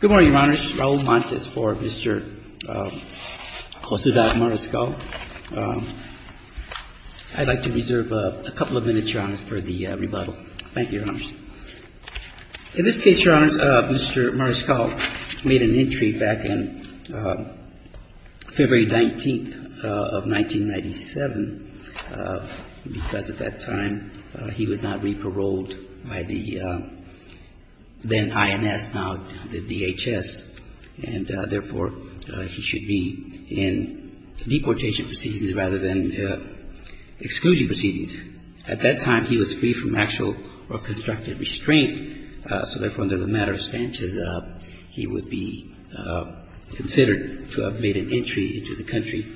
Good morning, Your Honor. This is Raul Montes for Mr. Josue Mariscal. I'd like to reserve a couple of minutes, Your Honor, for the rebuttal. Thank you, Your Honor. In this case, Your Honor, Mr. Mariscal made an entry back in February 19th of 1997 because at that time he was not in INS, now the DHS, and therefore, he should be in deportation proceedings rather than exclusion proceedings. At that time, he was free from actual or constructive restraint, so therefore, under the matter of stances, he would be considered to have made an entry into the country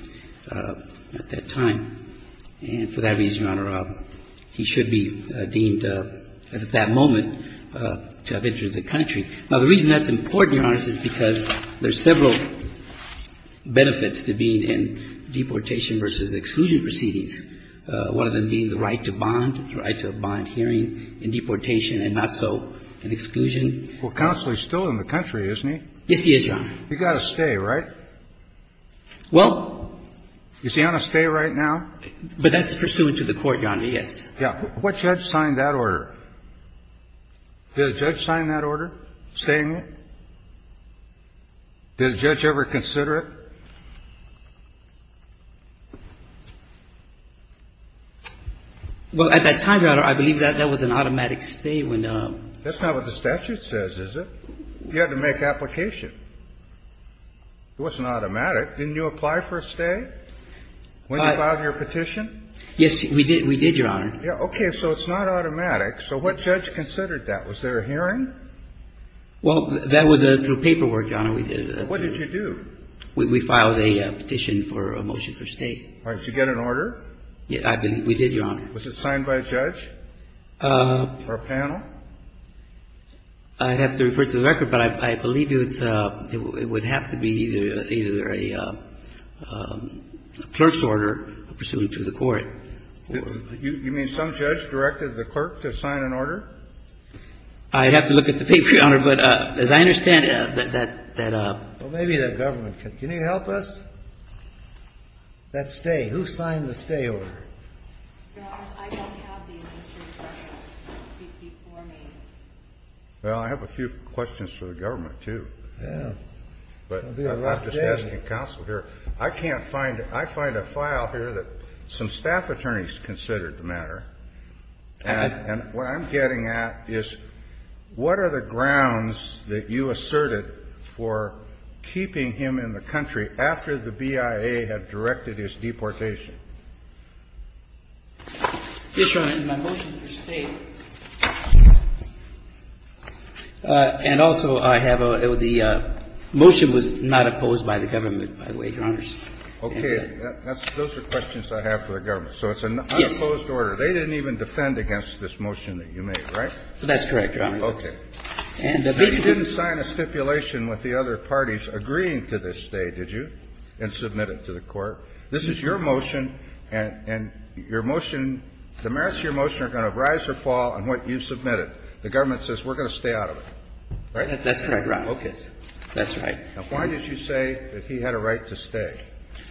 at that time, and for that reason, Your Honor, he should be deemed, as at that moment, to have entered the country. Now, the reason that's important, Your Honor, is because there's several benefits to being in deportation versus exclusion proceedings, one of them being the right to bond, the right to a bond hearing in deportation and not so in exclusion. Well, counsel, he's still in the country, isn't he? Yes, he is, Your Honor. He's got to stay, right? Well. Is he on a stay right now? But that's pursuant to the court, Your Honor, yes. Yeah. What judge signed that order? Did a judge sign that order stating it? Did a judge ever consider it? Well, at that time, Your Honor, I believe that that was an automatic stay. That's not what the statute says, is it? You had to make application. It wasn't automatic. Didn't you apply for a stay when you filed your petition? Yes, we did, Your Honor. Okay. So it's not automatic. So what judge considered that? Was there a hearing? Well, that was through paperwork, Your Honor, we did. What did you do? We filed a petition for a motion for stay. All right. Did you get an order? We did, Your Honor. Was it signed by a judge or a panel? I'd have to refer it to the record, but I believe it would have to be either a clerk's order pursuant to the court. You mean some judge directed the clerk to sign an order? I'd have to look at the paper, Your Honor. But as I understand it, that ---- Well, maybe the government. Can you help us? That stay. Who signed the stay order? Your Honor, I don't have the history before me. Well, I have a few questions for the government, too. Yeah. But I'm just asking counsel here. I can't find it. I find a file here that some staff attorneys considered the matter. And what I'm getting at is what are the grounds that you asserted for keeping him in the country after the BIA had directed his deportation? Yes, Your Honor, in my motion for stay. And also, I have a ---- the motion was not opposed by the government, by the way, Your Honors. Okay. Those are questions I have for the government. So it's an unopposed order. Yes. They didn't even defend against this motion that you made, right? That's correct, Your Honor. Okay. And basically ---- You didn't sign a stipulation with the other parties agreeing to this stay, did you, and submit it to the court? This is your motion, and your motion ---- the merits of your motion are going to rise or fall on what you submitted. The government says we're going to stay out of it, right? That's correct, Your Honor. Okay. That's right. Now, why did you say that he had a right to stay?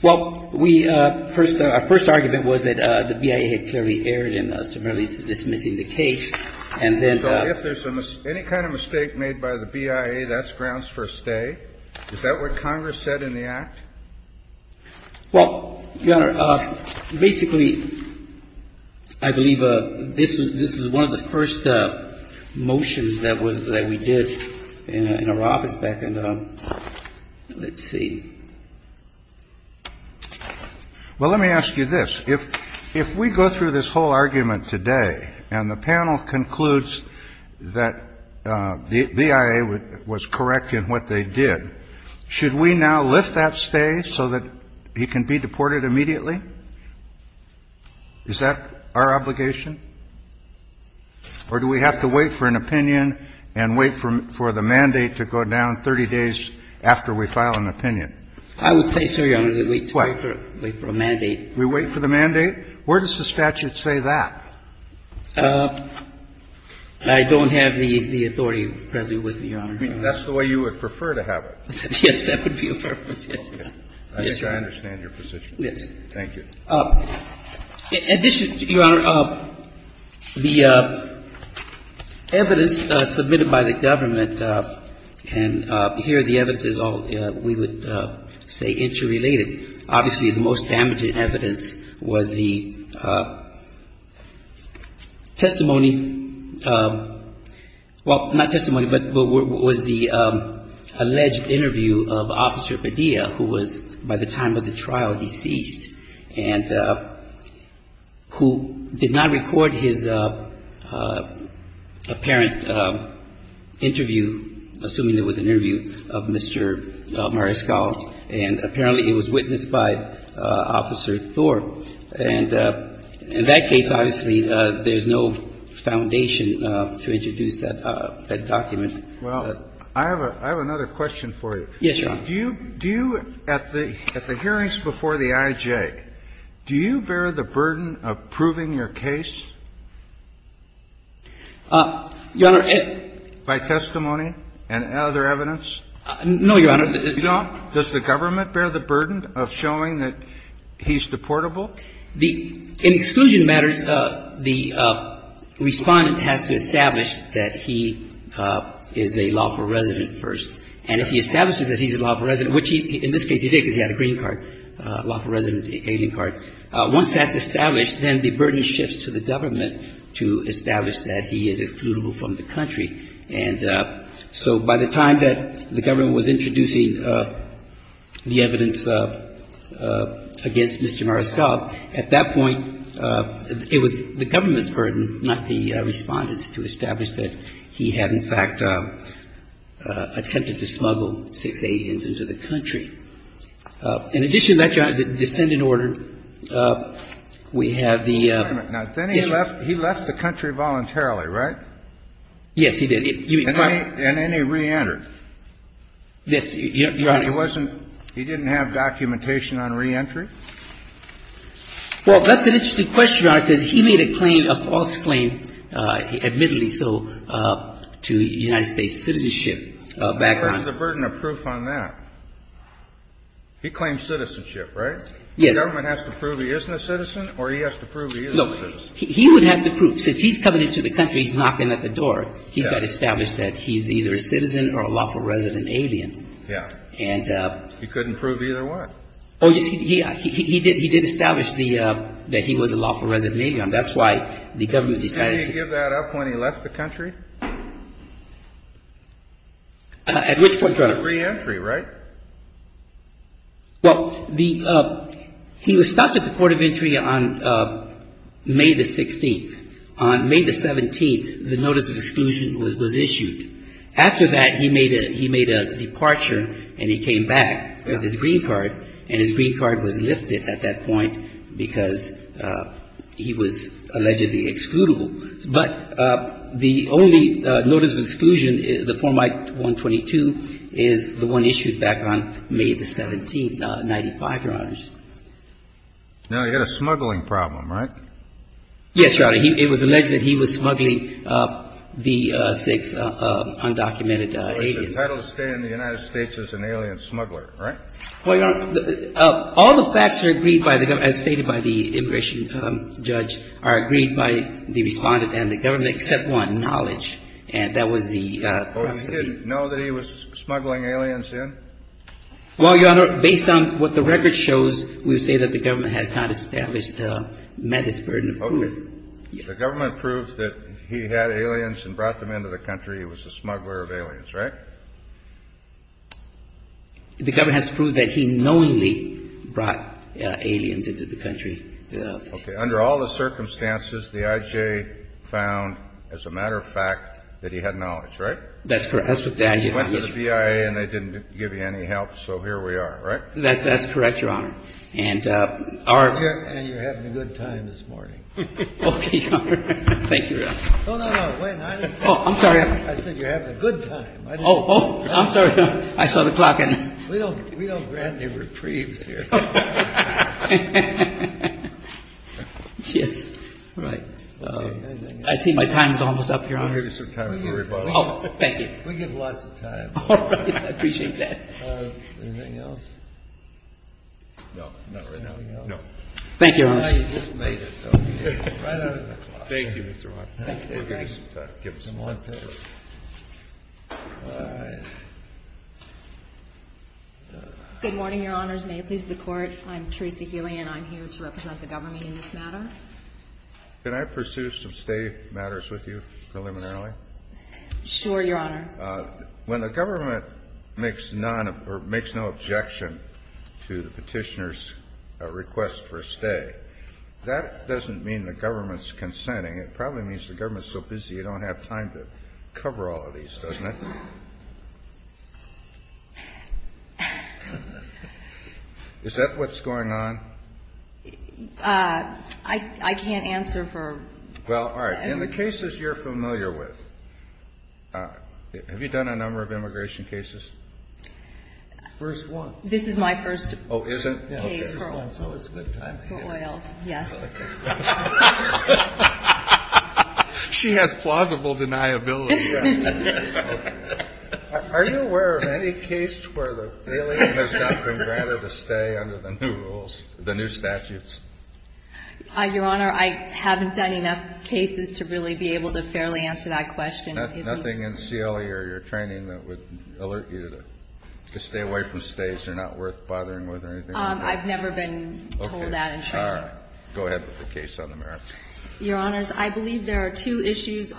Well, we ---- our first argument was that the BIA had clearly erred in severely dismissing the case, and then ---- So if there's any kind of mistake made by the BIA, that's grounds for a stay? Is that what Congress said in the act? Well, Your Honor, basically, I believe this is one of the first motions that was ---- that we did in our office back in the ---- let's see. Well, let me ask you this. If we go through this whole argument today and the panel concludes that the BIA was correct in what they did, should we now lift that stay so that he can be deported immediately? Is that our obligation? Or do we have to wait for an opinion and wait for the mandate to go down 30 days after we file an opinion? I would say, sir, Your Honor, that we wait to wait for a mandate. We wait for the mandate? Where does the statute say that? I don't have the authority, Your Honor. I mean, that's the way you would prefer to have it. Yes, that would be a purpose, yes, Your Honor. I think I understand your position. Yes. Thank you. In addition, Your Honor, the evidence submitted by the government, and here the evidence is all, we would say, interrelated. Obviously, the most damaging evidence was the testimony ---- well, not testimony, but was the alleged interview of Officer Padilla, who was by the time of the trial deceased and who did not record his apparent interview, assuming it was an interview of Mr. Mariscal, and apparently it was witnessed by Officer Thorpe. And in that case, obviously, there's no foundation to introduce that document. Well, I have another question for you. Yes, Your Honor. Do you, at the hearings before the IJ, do you bear the burden of proving your case? Your Honor, it ---- By testimony and other evidence? No, Your Honor. You don't? Does the government bear the burden of showing that he's deportable? The ---- in exclusion matters, the Respondent has to establish that he is a lawful resident first. And if he establishes that he's a lawful resident, which he ---- in this case he did because he had a green card. A lawful resident is an alien card. Once that's established, then the burden shifts to the government to establish that he is excludable from the country. And so by the time that the government was introducing the evidence against Mr. Mariscal, at that point, it was the government's burden, not the Respondent's, to establish that he had, in fact, attempted to smuggle six aliens into the country. In addition to that, Your Honor, the descendant order, we have the ---- Now, then he left the country voluntarily, right? Yes, he did. And then he reentered. Yes, Your Honor. He wasn't ---- he didn't have documentation on reentry? Well, that's an interesting question, Your Honor, because he made a claim, a false claim, admittedly so, to United States citizenship background. But what's the burden of proof on that? He claims citizenship, right? Yes. He would have the proof. Since he's coming into the country, he's knocking at the door. Yes. He got established that he's either a citizen or a lawful resident alien. Yes. And ---- He couldn't prove either one. Oh, yes. He did establish the ---- that he was a lawful resident alien. That's why the government decided to ---- Can you give that up when he left the country? At which point, Your Honor? To reentry, right? Well, the ---- he was stopped at the port of entry on May the 16th. On May the 17th, the notice of exclusion was issued. After that, he made a departure and he came back with his green card, and his green card was lifted at that point because he was allegedly excludable. But the only notice of exclusion, the Form I-122, is the one issued back on May the 17th, 1995, Your Honor. Now, he had a smuggling problem, right? Yes, Your Honor. It was alleged that he was smuggling the six undocumented aliens. But it's entitled to stay in the United States as an alien smuggler, right? Well, Your Honor, all the facts are agreed by the government, as stated by the immigration judge, are agreed by the Respondent and the government, except one, knowledge. And that was the ---- Well, he didn't know that he was smuggling aliens in? Well, Your Honor, based on what the record shows, we would say that the government has not established Mehta's burden of proof. Okay. The government proved that he had aliens and brought them into the country. He was a smuggler of aliens, right? The government has proved that he knowingly brought aliens into the country. Okay. Under all the circumstances, the I.J. found, as a matter of fact, that he had knowledge, right? That's correct. That's what the I.J. found. He went to the BIA and they didn't give you any help, so here we are, right? That's correct, Your Honor. And our ---- And you're having a good time this morning. Okay, Your Honor. Thank you, Your Honor. No, no, no. Wait a minute. Oh, I'm sorry. I said you're having a good time. Oh, oh, I'm sorry. I saw the clock and ---- We don't grant any reprieves here. Yes, right. I see my time is almost up, Your Honor. We'll give you some time to worry about it. Oh, thank you. We give lots of time. All right. I appreciate that. Anything else? No. Not right now, Your Honor? No. Thank you, Your Honor. No, you just made it. Right out of the clock. Thank you, Mr. Roberts. Thank you. Give us some time. Give us some time. All right. Good morning, Your Honors. May it please the Court. I'm Teresa Healy, and I'm here to represent the government in this matter. Can I pursue some stay matters with you preliminarily? Sure, Your Honor. When the government makes none or makes no objection to the Petitioner's request for stay, that doesn't mean the government's consenting. It probably means the government's so busy, you don't have time to cover all of these, doesn't it? Is that what's going on? I can't answer for you. Well, all right. In the cases you're familiar with, have you done a number of immigration cases? First one. This is my first case for oil. Yes. She has plausible deniability. Are you aware of any case where the alien has not been granted a stay under the new rules, the new statutes? Your Honor, I haven't done enough cases to really be able to fairly answer that question. Nothing in CLE or your training that would alert you to stay away from stays you're not worth bothering with or anything like that? I've never been told that. All right. Go ahead with the case on the mirror. Your Honors, I believe there are two issues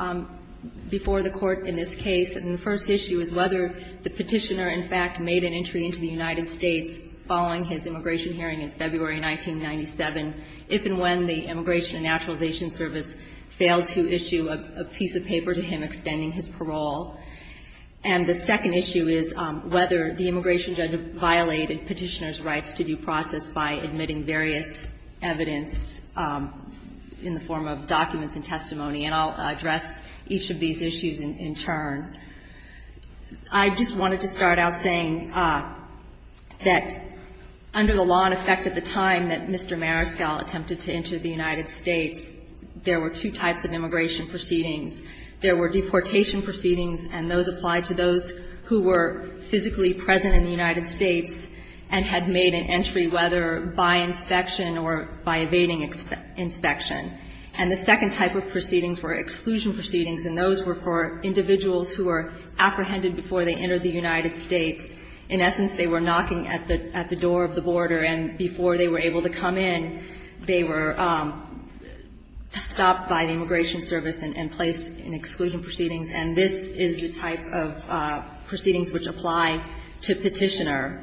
before the Court in this case. And the first issue is whether the Petitioner, in fact, made an entry into the United States following his immigration hearing in February 1997, if and when the Immigration and Naturalization Service failed to issue a piece of paper to him extending his parole. And the second issue is whether the immigration judge violated Petitioner's rights to due process by admitting various evidence in the form of documents and testimony. And I'll address each of these issues in turn. I just wanted to start out saying that under the law in effect at the time that Mr. Mariscal attempted to enter the United States, there were two types of immigration proceedings. There were deportation proceedings, and those applied to those who were physically present in the United States and had made an entry, whether by inspection or by evading inspection. And the second type of proceedings were exclusion proceedings, and those were for individuals who were apprehended before they entered the United States. In essence, they were knocking at the door of the border, and before they were able to come in, they were stopped by the Immigration Service and placed in exclusion proceedings. And this is the type of proceedings which apply to Petitioner.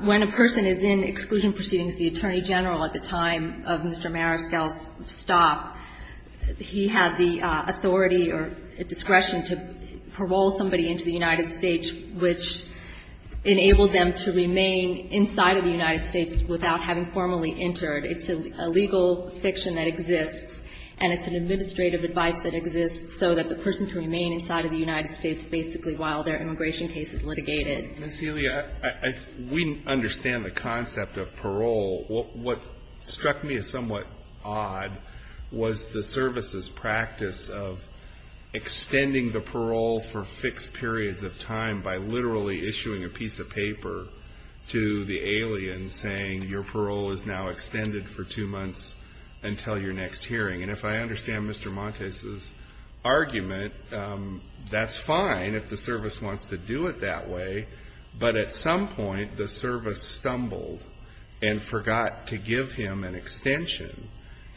When a person is in exclusion proceedings, the Attorney General at the time of Mr. Mariscal's stop, he had the authority or discretion to parole somebody into the United States, which enabled them to remain inside of the United States without having formally entered. It's a legal fiction that exists, and it's an administrative advice that exists so that the person can remain inside of the United States basically while their immigration case is litigated. Alito, we understand the concept of parole. What struck me as somewhat odd was the service's practice of extending the parole for fixed periods of time by literally issuing a piece of paper to the alien saying your parole is now extended for two months until your next hearing. And if I understand Mr. Montes' argument, that's fine if the service wants to do it that way, but at some point the service stumbled and forgot to give him an extension,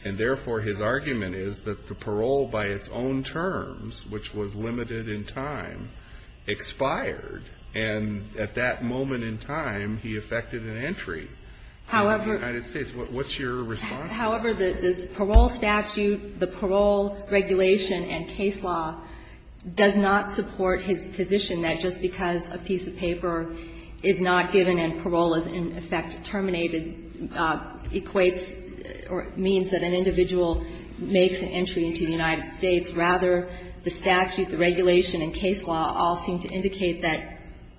and therefore his argument is that the parole by its own terms, which was limited in time, expired, and at that moment in time he effected an entry into the United States. What's your response to that? However, the parole statute, the parole regulation and case law does not support his position that just because a piece of paper is not given and parole is in effect terminated equates or means that an individual makes an entry into the United States. Rather, the statute, the regulation and case law all seem to indicate that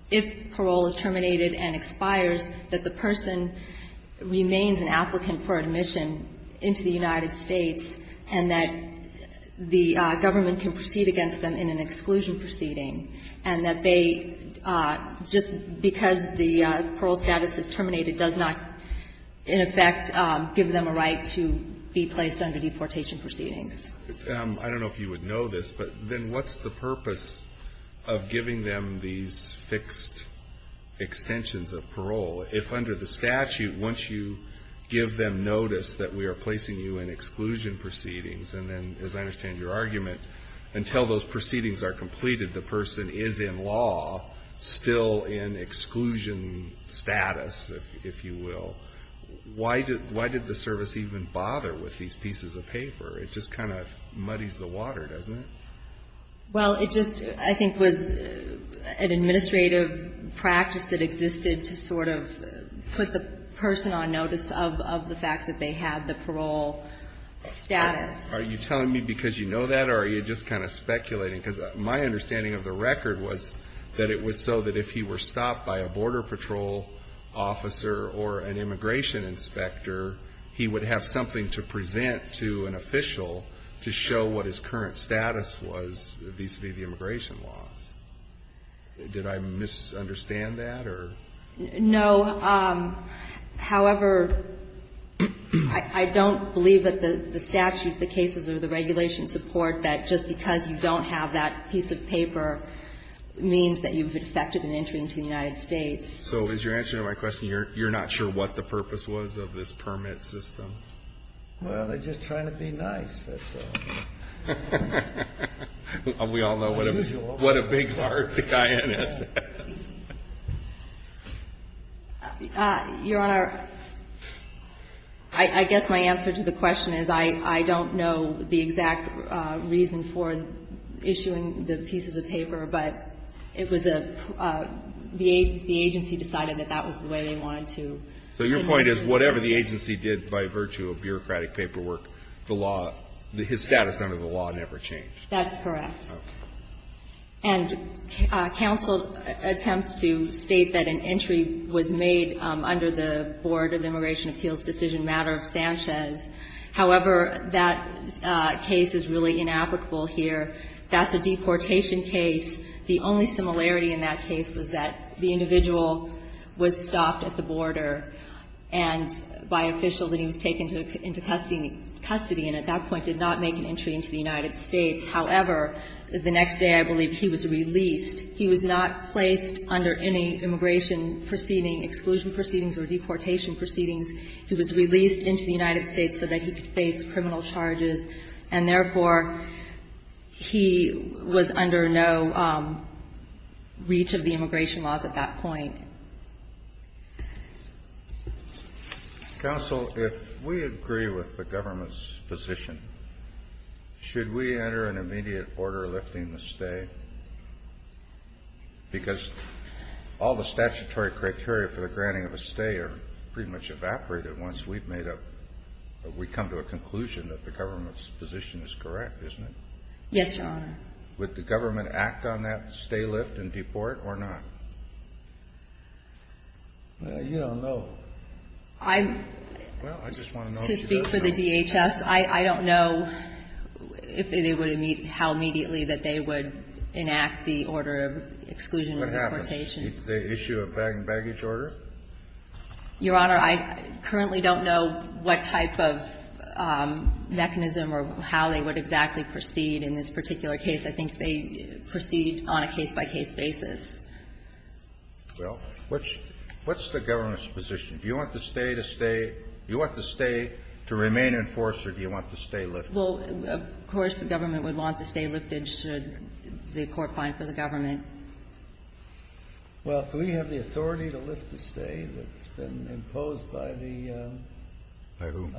if parole is terminated and expires, that the person remains an applicant for admission into the United States and that the government can proceed against them in an exclusion proceeding and that they, just because the parole status is terminated, does not in effect give them a right to be placed under deportation proceedings. I don't know if you would know this, but then what's the purpose of giving them these fixed extensions of parole if under the statute, once you give them notice that we are placing you in exclusion proceedings, and then as I understand your argument, until those proceedings are completed, the person is in law still in exclusion status, if you will. Why did the service even bother with these pieces of paper? It just kind of muddies the water, doesn't it? Well, it just, I think, was an administrative practice that existed to sort of put the person on notice of the fact that they had the parole status. Are you telling me because you know that or are you just kind of speculating? Because my understanding of the record was that it was so that if he were stopped by a border patrol officer or an immigration inspector, he would have something to present to an official to show what his current status was vis-à-vis the immigration laws. Did I misunderstand that or? No. However, I don't believe that the statute, the cases or the regulation support that just because you don't have that piece of paper means that you've infected an So is your answer to my question, you're not sure what the purpose was of this permit system? Well, they're just trying to be nice. That's all. We all know what a big heart the INS is. Your Honor, I guess my answer to the question is I don't know the exact reason for that, but it was a, the agency decided that that was the way they wanted to. So your point is whatever the agency did by virtue of bureaucratic paperwork, the law, his status under the law never changed? That's correct. Okay. And counsel attempts to state that an entry was made under the Board of Immigration Appeals decision matter of Sanchez. However, that case is really inapplicable here. That's a deportation case. The only similarity in that case was that the individual was stopped at the border and by officials and he was taken into custody and at that point did not make an entry into the United States. However, the next day I believe he was released. He was not placed under any immigration proceeding, exclusion proceedings or deportation proceedings. He was released into the United States so that he could face criminal charges and therefore he was under no reach of the immigration laws at that point. Counsel, if we agree with the government's position, should we enter an immediate order lifting the stay? Because all the statutory criteria for the granting of a stay are pretty much evaporated once we've made up, we come to a conclusion that the government's position is correct, isn't it? Yes, Your Honor. Would the government act on that stay, lift and deport or not? You don't know. I just want to know if you don't know. To speak for the DHS, I don't know how immediately that they would enact the order of exclusion or deportation. What happens? They issue a baggage order? Your Honor, I currently don't know what type of mechanism or how they would exactly proceed in this particular case. I think they proceed on a case-by-case basis. Well, what's the government's position? Do you want the stay to stay? Do you want the stay to remain in force or do you want the stay lifted? Well, of course the government would want the stay lifted should the court find for the government. Well, do we have the authority to lift the stay that's been imposed by the INS? By whom?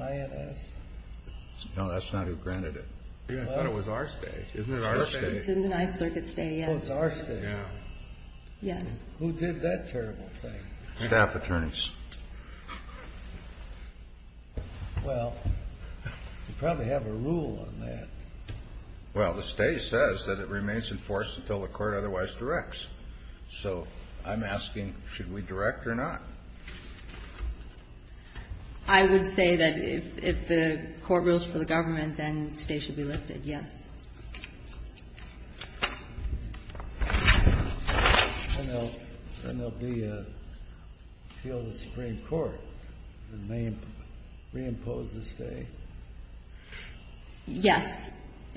No, that's not who granted it. I thought it was our stay. Isn't it our stay? It's in the Ninth Circuit stay, yes. Oh, it's our stay. Yes. Who did that terrible thing? Staff attorneys. Well, you probably have a rule on that. Well, the stay says that it remains in force until the court otherwise directs. So I'm asking, should we direct or not? I would say that if the court rules for the government, then stay should be lifted, yes. Then there'll be a field of the Supreme Court that may reimpose the stay. Yes.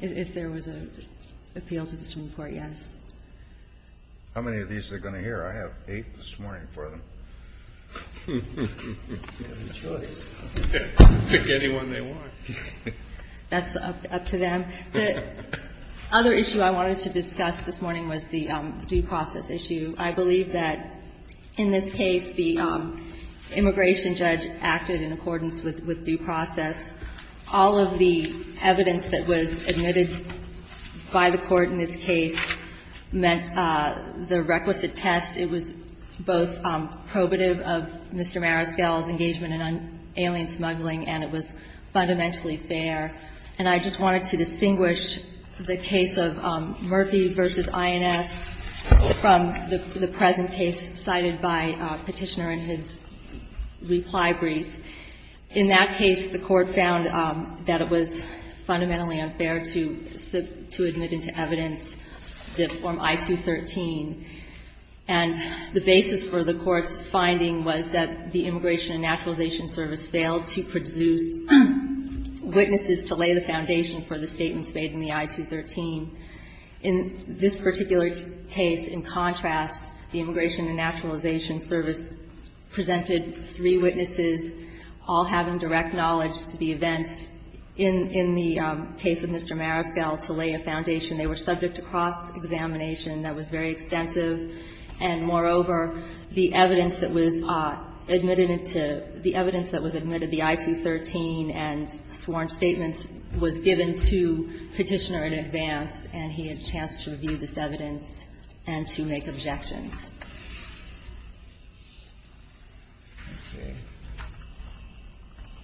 If there was an appeal to the Supreme Court, yes. How many of these are they going to hear? I have eight this morning for them. They have a choice. Pick anyone they want. That's up to them. The other issue I wanted to discuss this morning was the due process issue. I believe that in this case the immigration judge acted in accordance with due process. All of the evidence that was admitted by the court in this case meant the requisite test. It was both probative of Mr. Mariscal's engagement in alien smuggling and it was fundamentally fair. And I just wanted to distinguish the case of Murphy v. INS from the present case cited by Petitioner in his reply brief. In that case, the court found that it was fundamentally unfair to admit into evidence the form I-213, and the basis for the court's finding was that the Immigration and Naturalization Service failed to produce witnesses to lay the foundation for the statements made in the I-213. In this particular case, in contrast, the Immigration and Naturalization Service presented three witnesses, all having direct knowledge to the events in the case of Mr. Mariscal to lay a foundation. They were subject to cross-examination. That was very extensive. And moreover, the evidence that was admitted into the I-213 and sworn statements was given to Petitioner in advance, and he had a chance to review this evidence and to make objections.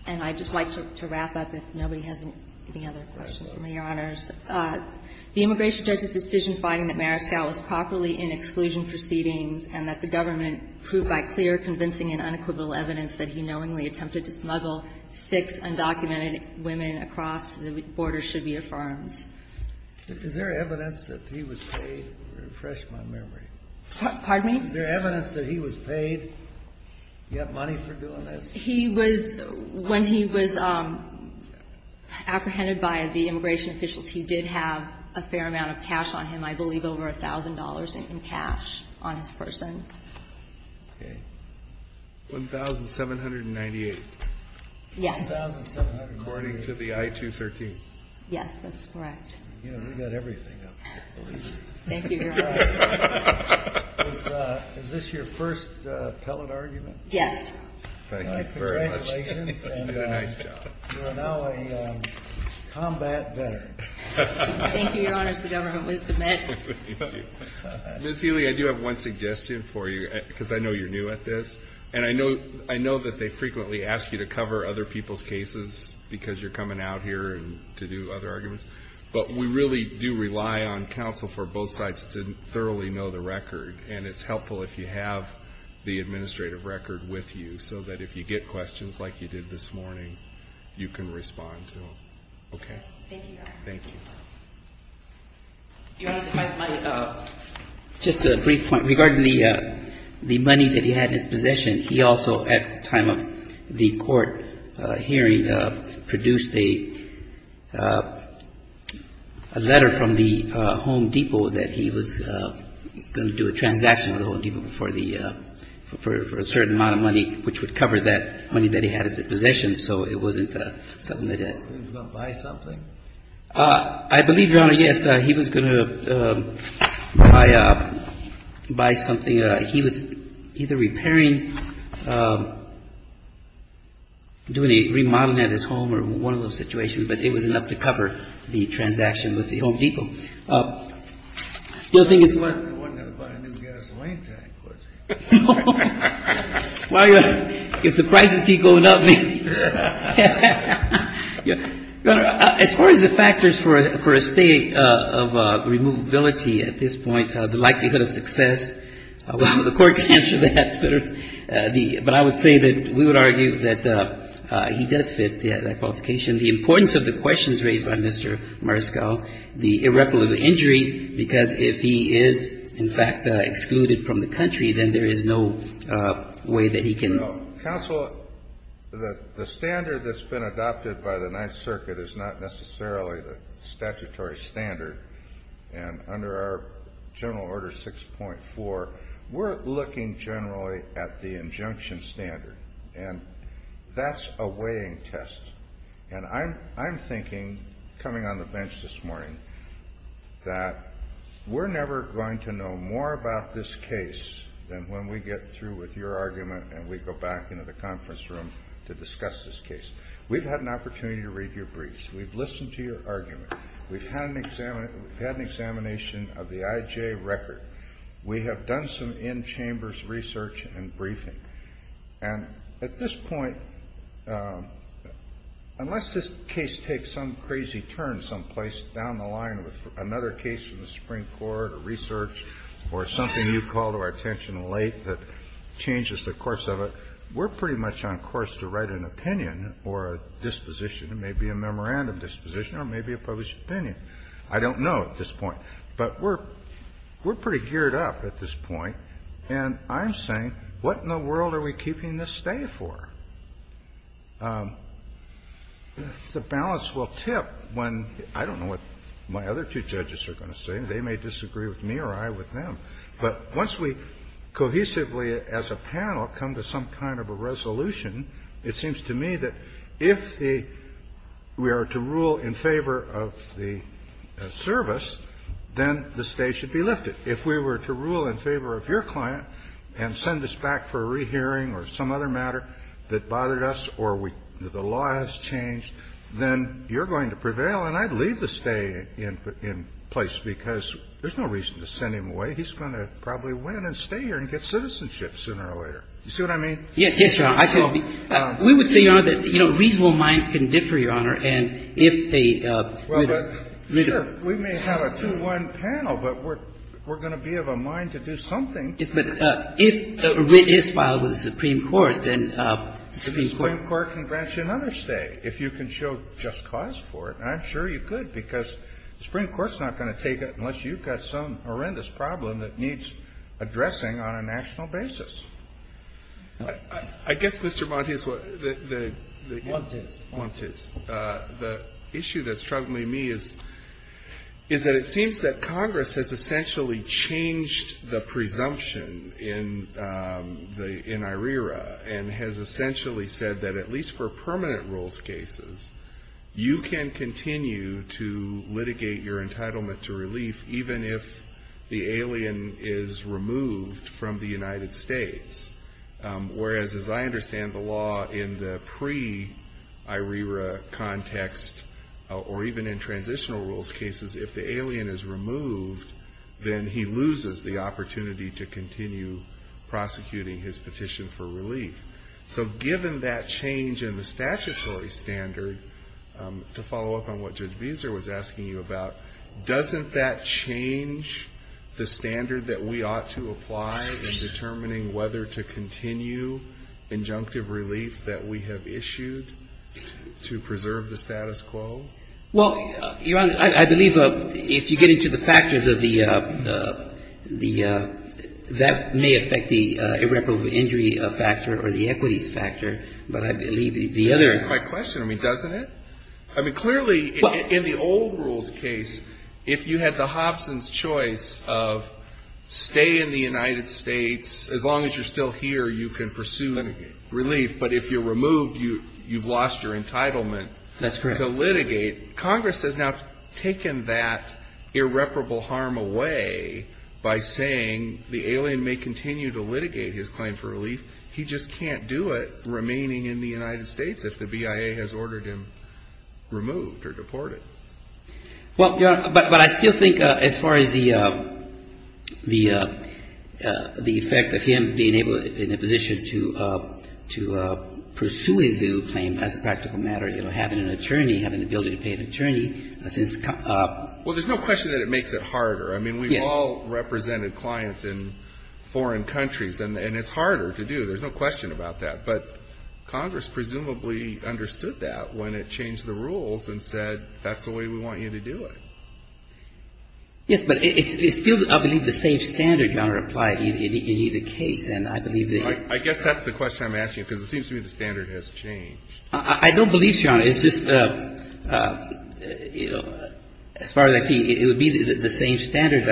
And I'd just like to wrap up, if nobody has any other questions for me, Your Honors. The immigration judge's decision finding that Mariscal was properly in exclusion proceedings and that the government proved by clear, convincing, and unequivocal evidence that he knowingly attempted to smuggle six undocumented women across the border should be affirmed. Is there evidence that he was paid? Refresh my memory. Pardon me? Is there evidence that he was paid? Do you have money for doing this? He was, when he was apprehended by the immigration officials, he did have a fair amount of cash on him, I believe over $1,000 in cash on his person. Okay. $1,798. Yes. According to the I-213. Yes, that's correct. You know, we've got everything up for the leader. Thank you, Your Honors. Is this your first appellate argument? Yes. Thank you very much. Congratulations. You did a nice job. You are now a combat veteran. Thank you, Your Honors. The government will submit. Thank you. Ms. Healy, I do have one suggestion for you because I know you're new at this, and I know that they frequently ask you to cover other people's cases because you're coming out here to do other arguments, but we really do rely on counsel for both sides to thoroughly know the record, and it's helpful if you have the administrative record with you so that if you get questions like you did this morning, you can respond to them. Okay. Thank you, Your Honor. Thank you. Your Honor, just a brief point. Regarding the money that he had in his possession, he also, at the time of the court hearing, produced a letter from the Home Depot that he was going to do a transaction with the Home Depot for a certain amount of money, which would cover that money that he had as a possession. So it wasn't something that he had. He was going to buy something? I believe, Your Honor, yes, he was going to buy something. He was either repairing, doing a remodeling at his home or one of those situations, but it was enough to cover the transaction with the Home Depot. The other thing is what? He wasn't going to buy a new gasoline tank, was he? No. Well, Your Honor, if the prices keep going up. Your Honor, as far as the factors for a stay of removability at this point, the likelihood of success, the court can answer that. But I would say that we would argue that he does fit that qualification. The importance of the questions raised by Mr. Mariscal, the irreparable injury, because if he is, in fact, excluded from the country, then there is no way that he can. Counsel, the standard that's been adopted by the Ninth Circuit is not necessarily the statutory standard. And under our General Order 6.4, we're looking generally at the injunction standard. And that's a weighing test. And I'm thinking, coming on the bench this morning, that we're never going to know more about this case than when we get through with your argument and we go back into the conference room to discuss this case. We've had an opportunity to read your briefs. We've listened to your argument. We've had an examination of the IJ record. We have done some in-chambers research and briefing. And at this point, unless this case takes some crazy turn someplace down the line with another case from the Supreme Court or research or something you call to our attention late that changes the course of it, we're pretty much on course to write an opinion or a disposition. It may be a memorandum disposition or it may be a published opinion. I don't know at this point. But we're pretty geared up at this point. And I'm saying, what in the world are we keeping this stay for? The balance will tip when — I don't know what my other two judges are going to say. They may disagree with me or I with them. But once we cohesively as a panel come to some kind of a resolution, it seems to me that if the — we are to rule in favor of the service, then the stay should be lifted. If we were to rule in favor of your client and send us back for a rehearing or some other matter that bothered us or the law has changed, then you're going to prevail and I'd leave the stay in place because there's no reason to send him away. He's going to probably win and stay here and get citizenship sooner or later. You see what I mean? Yes, Your Honor. We would say, Your Honor, that reasonable minds can differ, Your Honor, and if a — Well, but sure. We may have a 2-1 panel, but we're going to be of a mind to do something. Yes, but if a writ is filed with the Supreme Court, then the Supreme Court — The Supreme Court can grant you another stay if you can show just cause for it. I'm sure you could because the Supreme Court's not going to take it unless you've got some horrendous problem that needs addressing on a national basis. I guess, Mr. Montes, what — Montes. Montes. The issue that's troubling me is that it seems that Congress has essentially changed the presumption in IRERA and has essentially said that at least for permanent rules cases, you can continue to litigate your entitlement to relief even if the alien is removed from the United States, whereas as I understand the law in the pre-IRERA context or even in transitional rules cases, if the alien is removed, then he loses the opportunity to continue prosecuting his petition for relief. So given that change in the statutory standard, to follow up on what Judge Beezer was asking you about, doesn't that change the standard that we ought to apply in determining whether to continue injunctive relief that we have issued to preserve the status quo? Well, Your Honor, I believe if you get into the factors of the — that may affect the irreparable injury factor or the equities factor, but I believe the other — That answers my question. I mean, doesn't it? I mean, clearly in the old rules case, if you had the Hobson's choice of stay in the United States, as long as you're still here, you can pursue relief, but if you're removed, you've lost your entitlement — That's correct. — to litigate. Congress has now taken that irreparable harm away by saying the alien may continue to litigate his claim for relief. He just can't do it remaining in the United States if the BIA has ordered him removed or deported. Well, Your Honor, but I still think as far as the effect of him being able — Well, there's no question that it makes it harder. I mean, we've all represented clients in foreign countries, and it's harder to do. There's no question about that. But Congress presumably understood that when it changed the rules and said, that's the way we want you to do it. Yes, but it's still, I believe, the same standard, Your Honor, applied in either case, and I believe that — I guess that's the question I'm asking you, because it seems to me that it's still the same standard. It seems to me the standard has changed. I don't believe so, Your Honor. It's just, you know, as far as I see, it would be the same standard.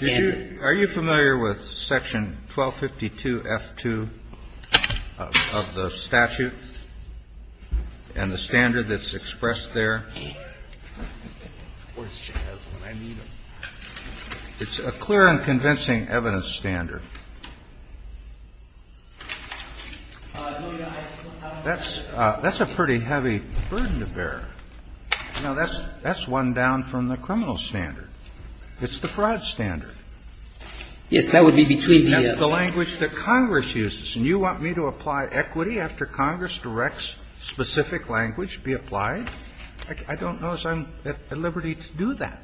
Are you familiar with Section 1252f2 of the statute and the standard that's expressed there? It's a clear and convincing evidence standard. That's a pretty heavy burden to bear. You know, that's one down from the criminal standard. It's the fraud standard. Yes, that would be between the two. That's the language that Congress uses. And you want me to apply equity after Congress directs specific language be applied? I don't know if I'm at liberty to do that.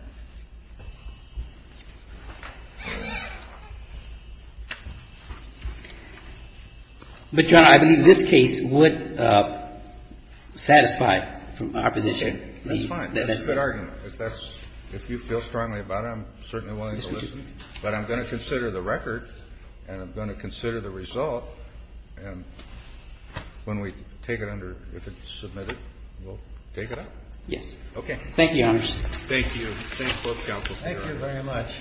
But, Your Honor, I believe this case would satisfy our position. That's fine. That's the argument. If that's — if you feel strongly about it, I'm certainly willing to listen. But I'm going to consider the record and I'm going to consider the result. And when we take it under, if it's submitted, we'll take it up? Yes. Thank you, Your Honor. Thank you. Thank both counsels here. Thank you very much.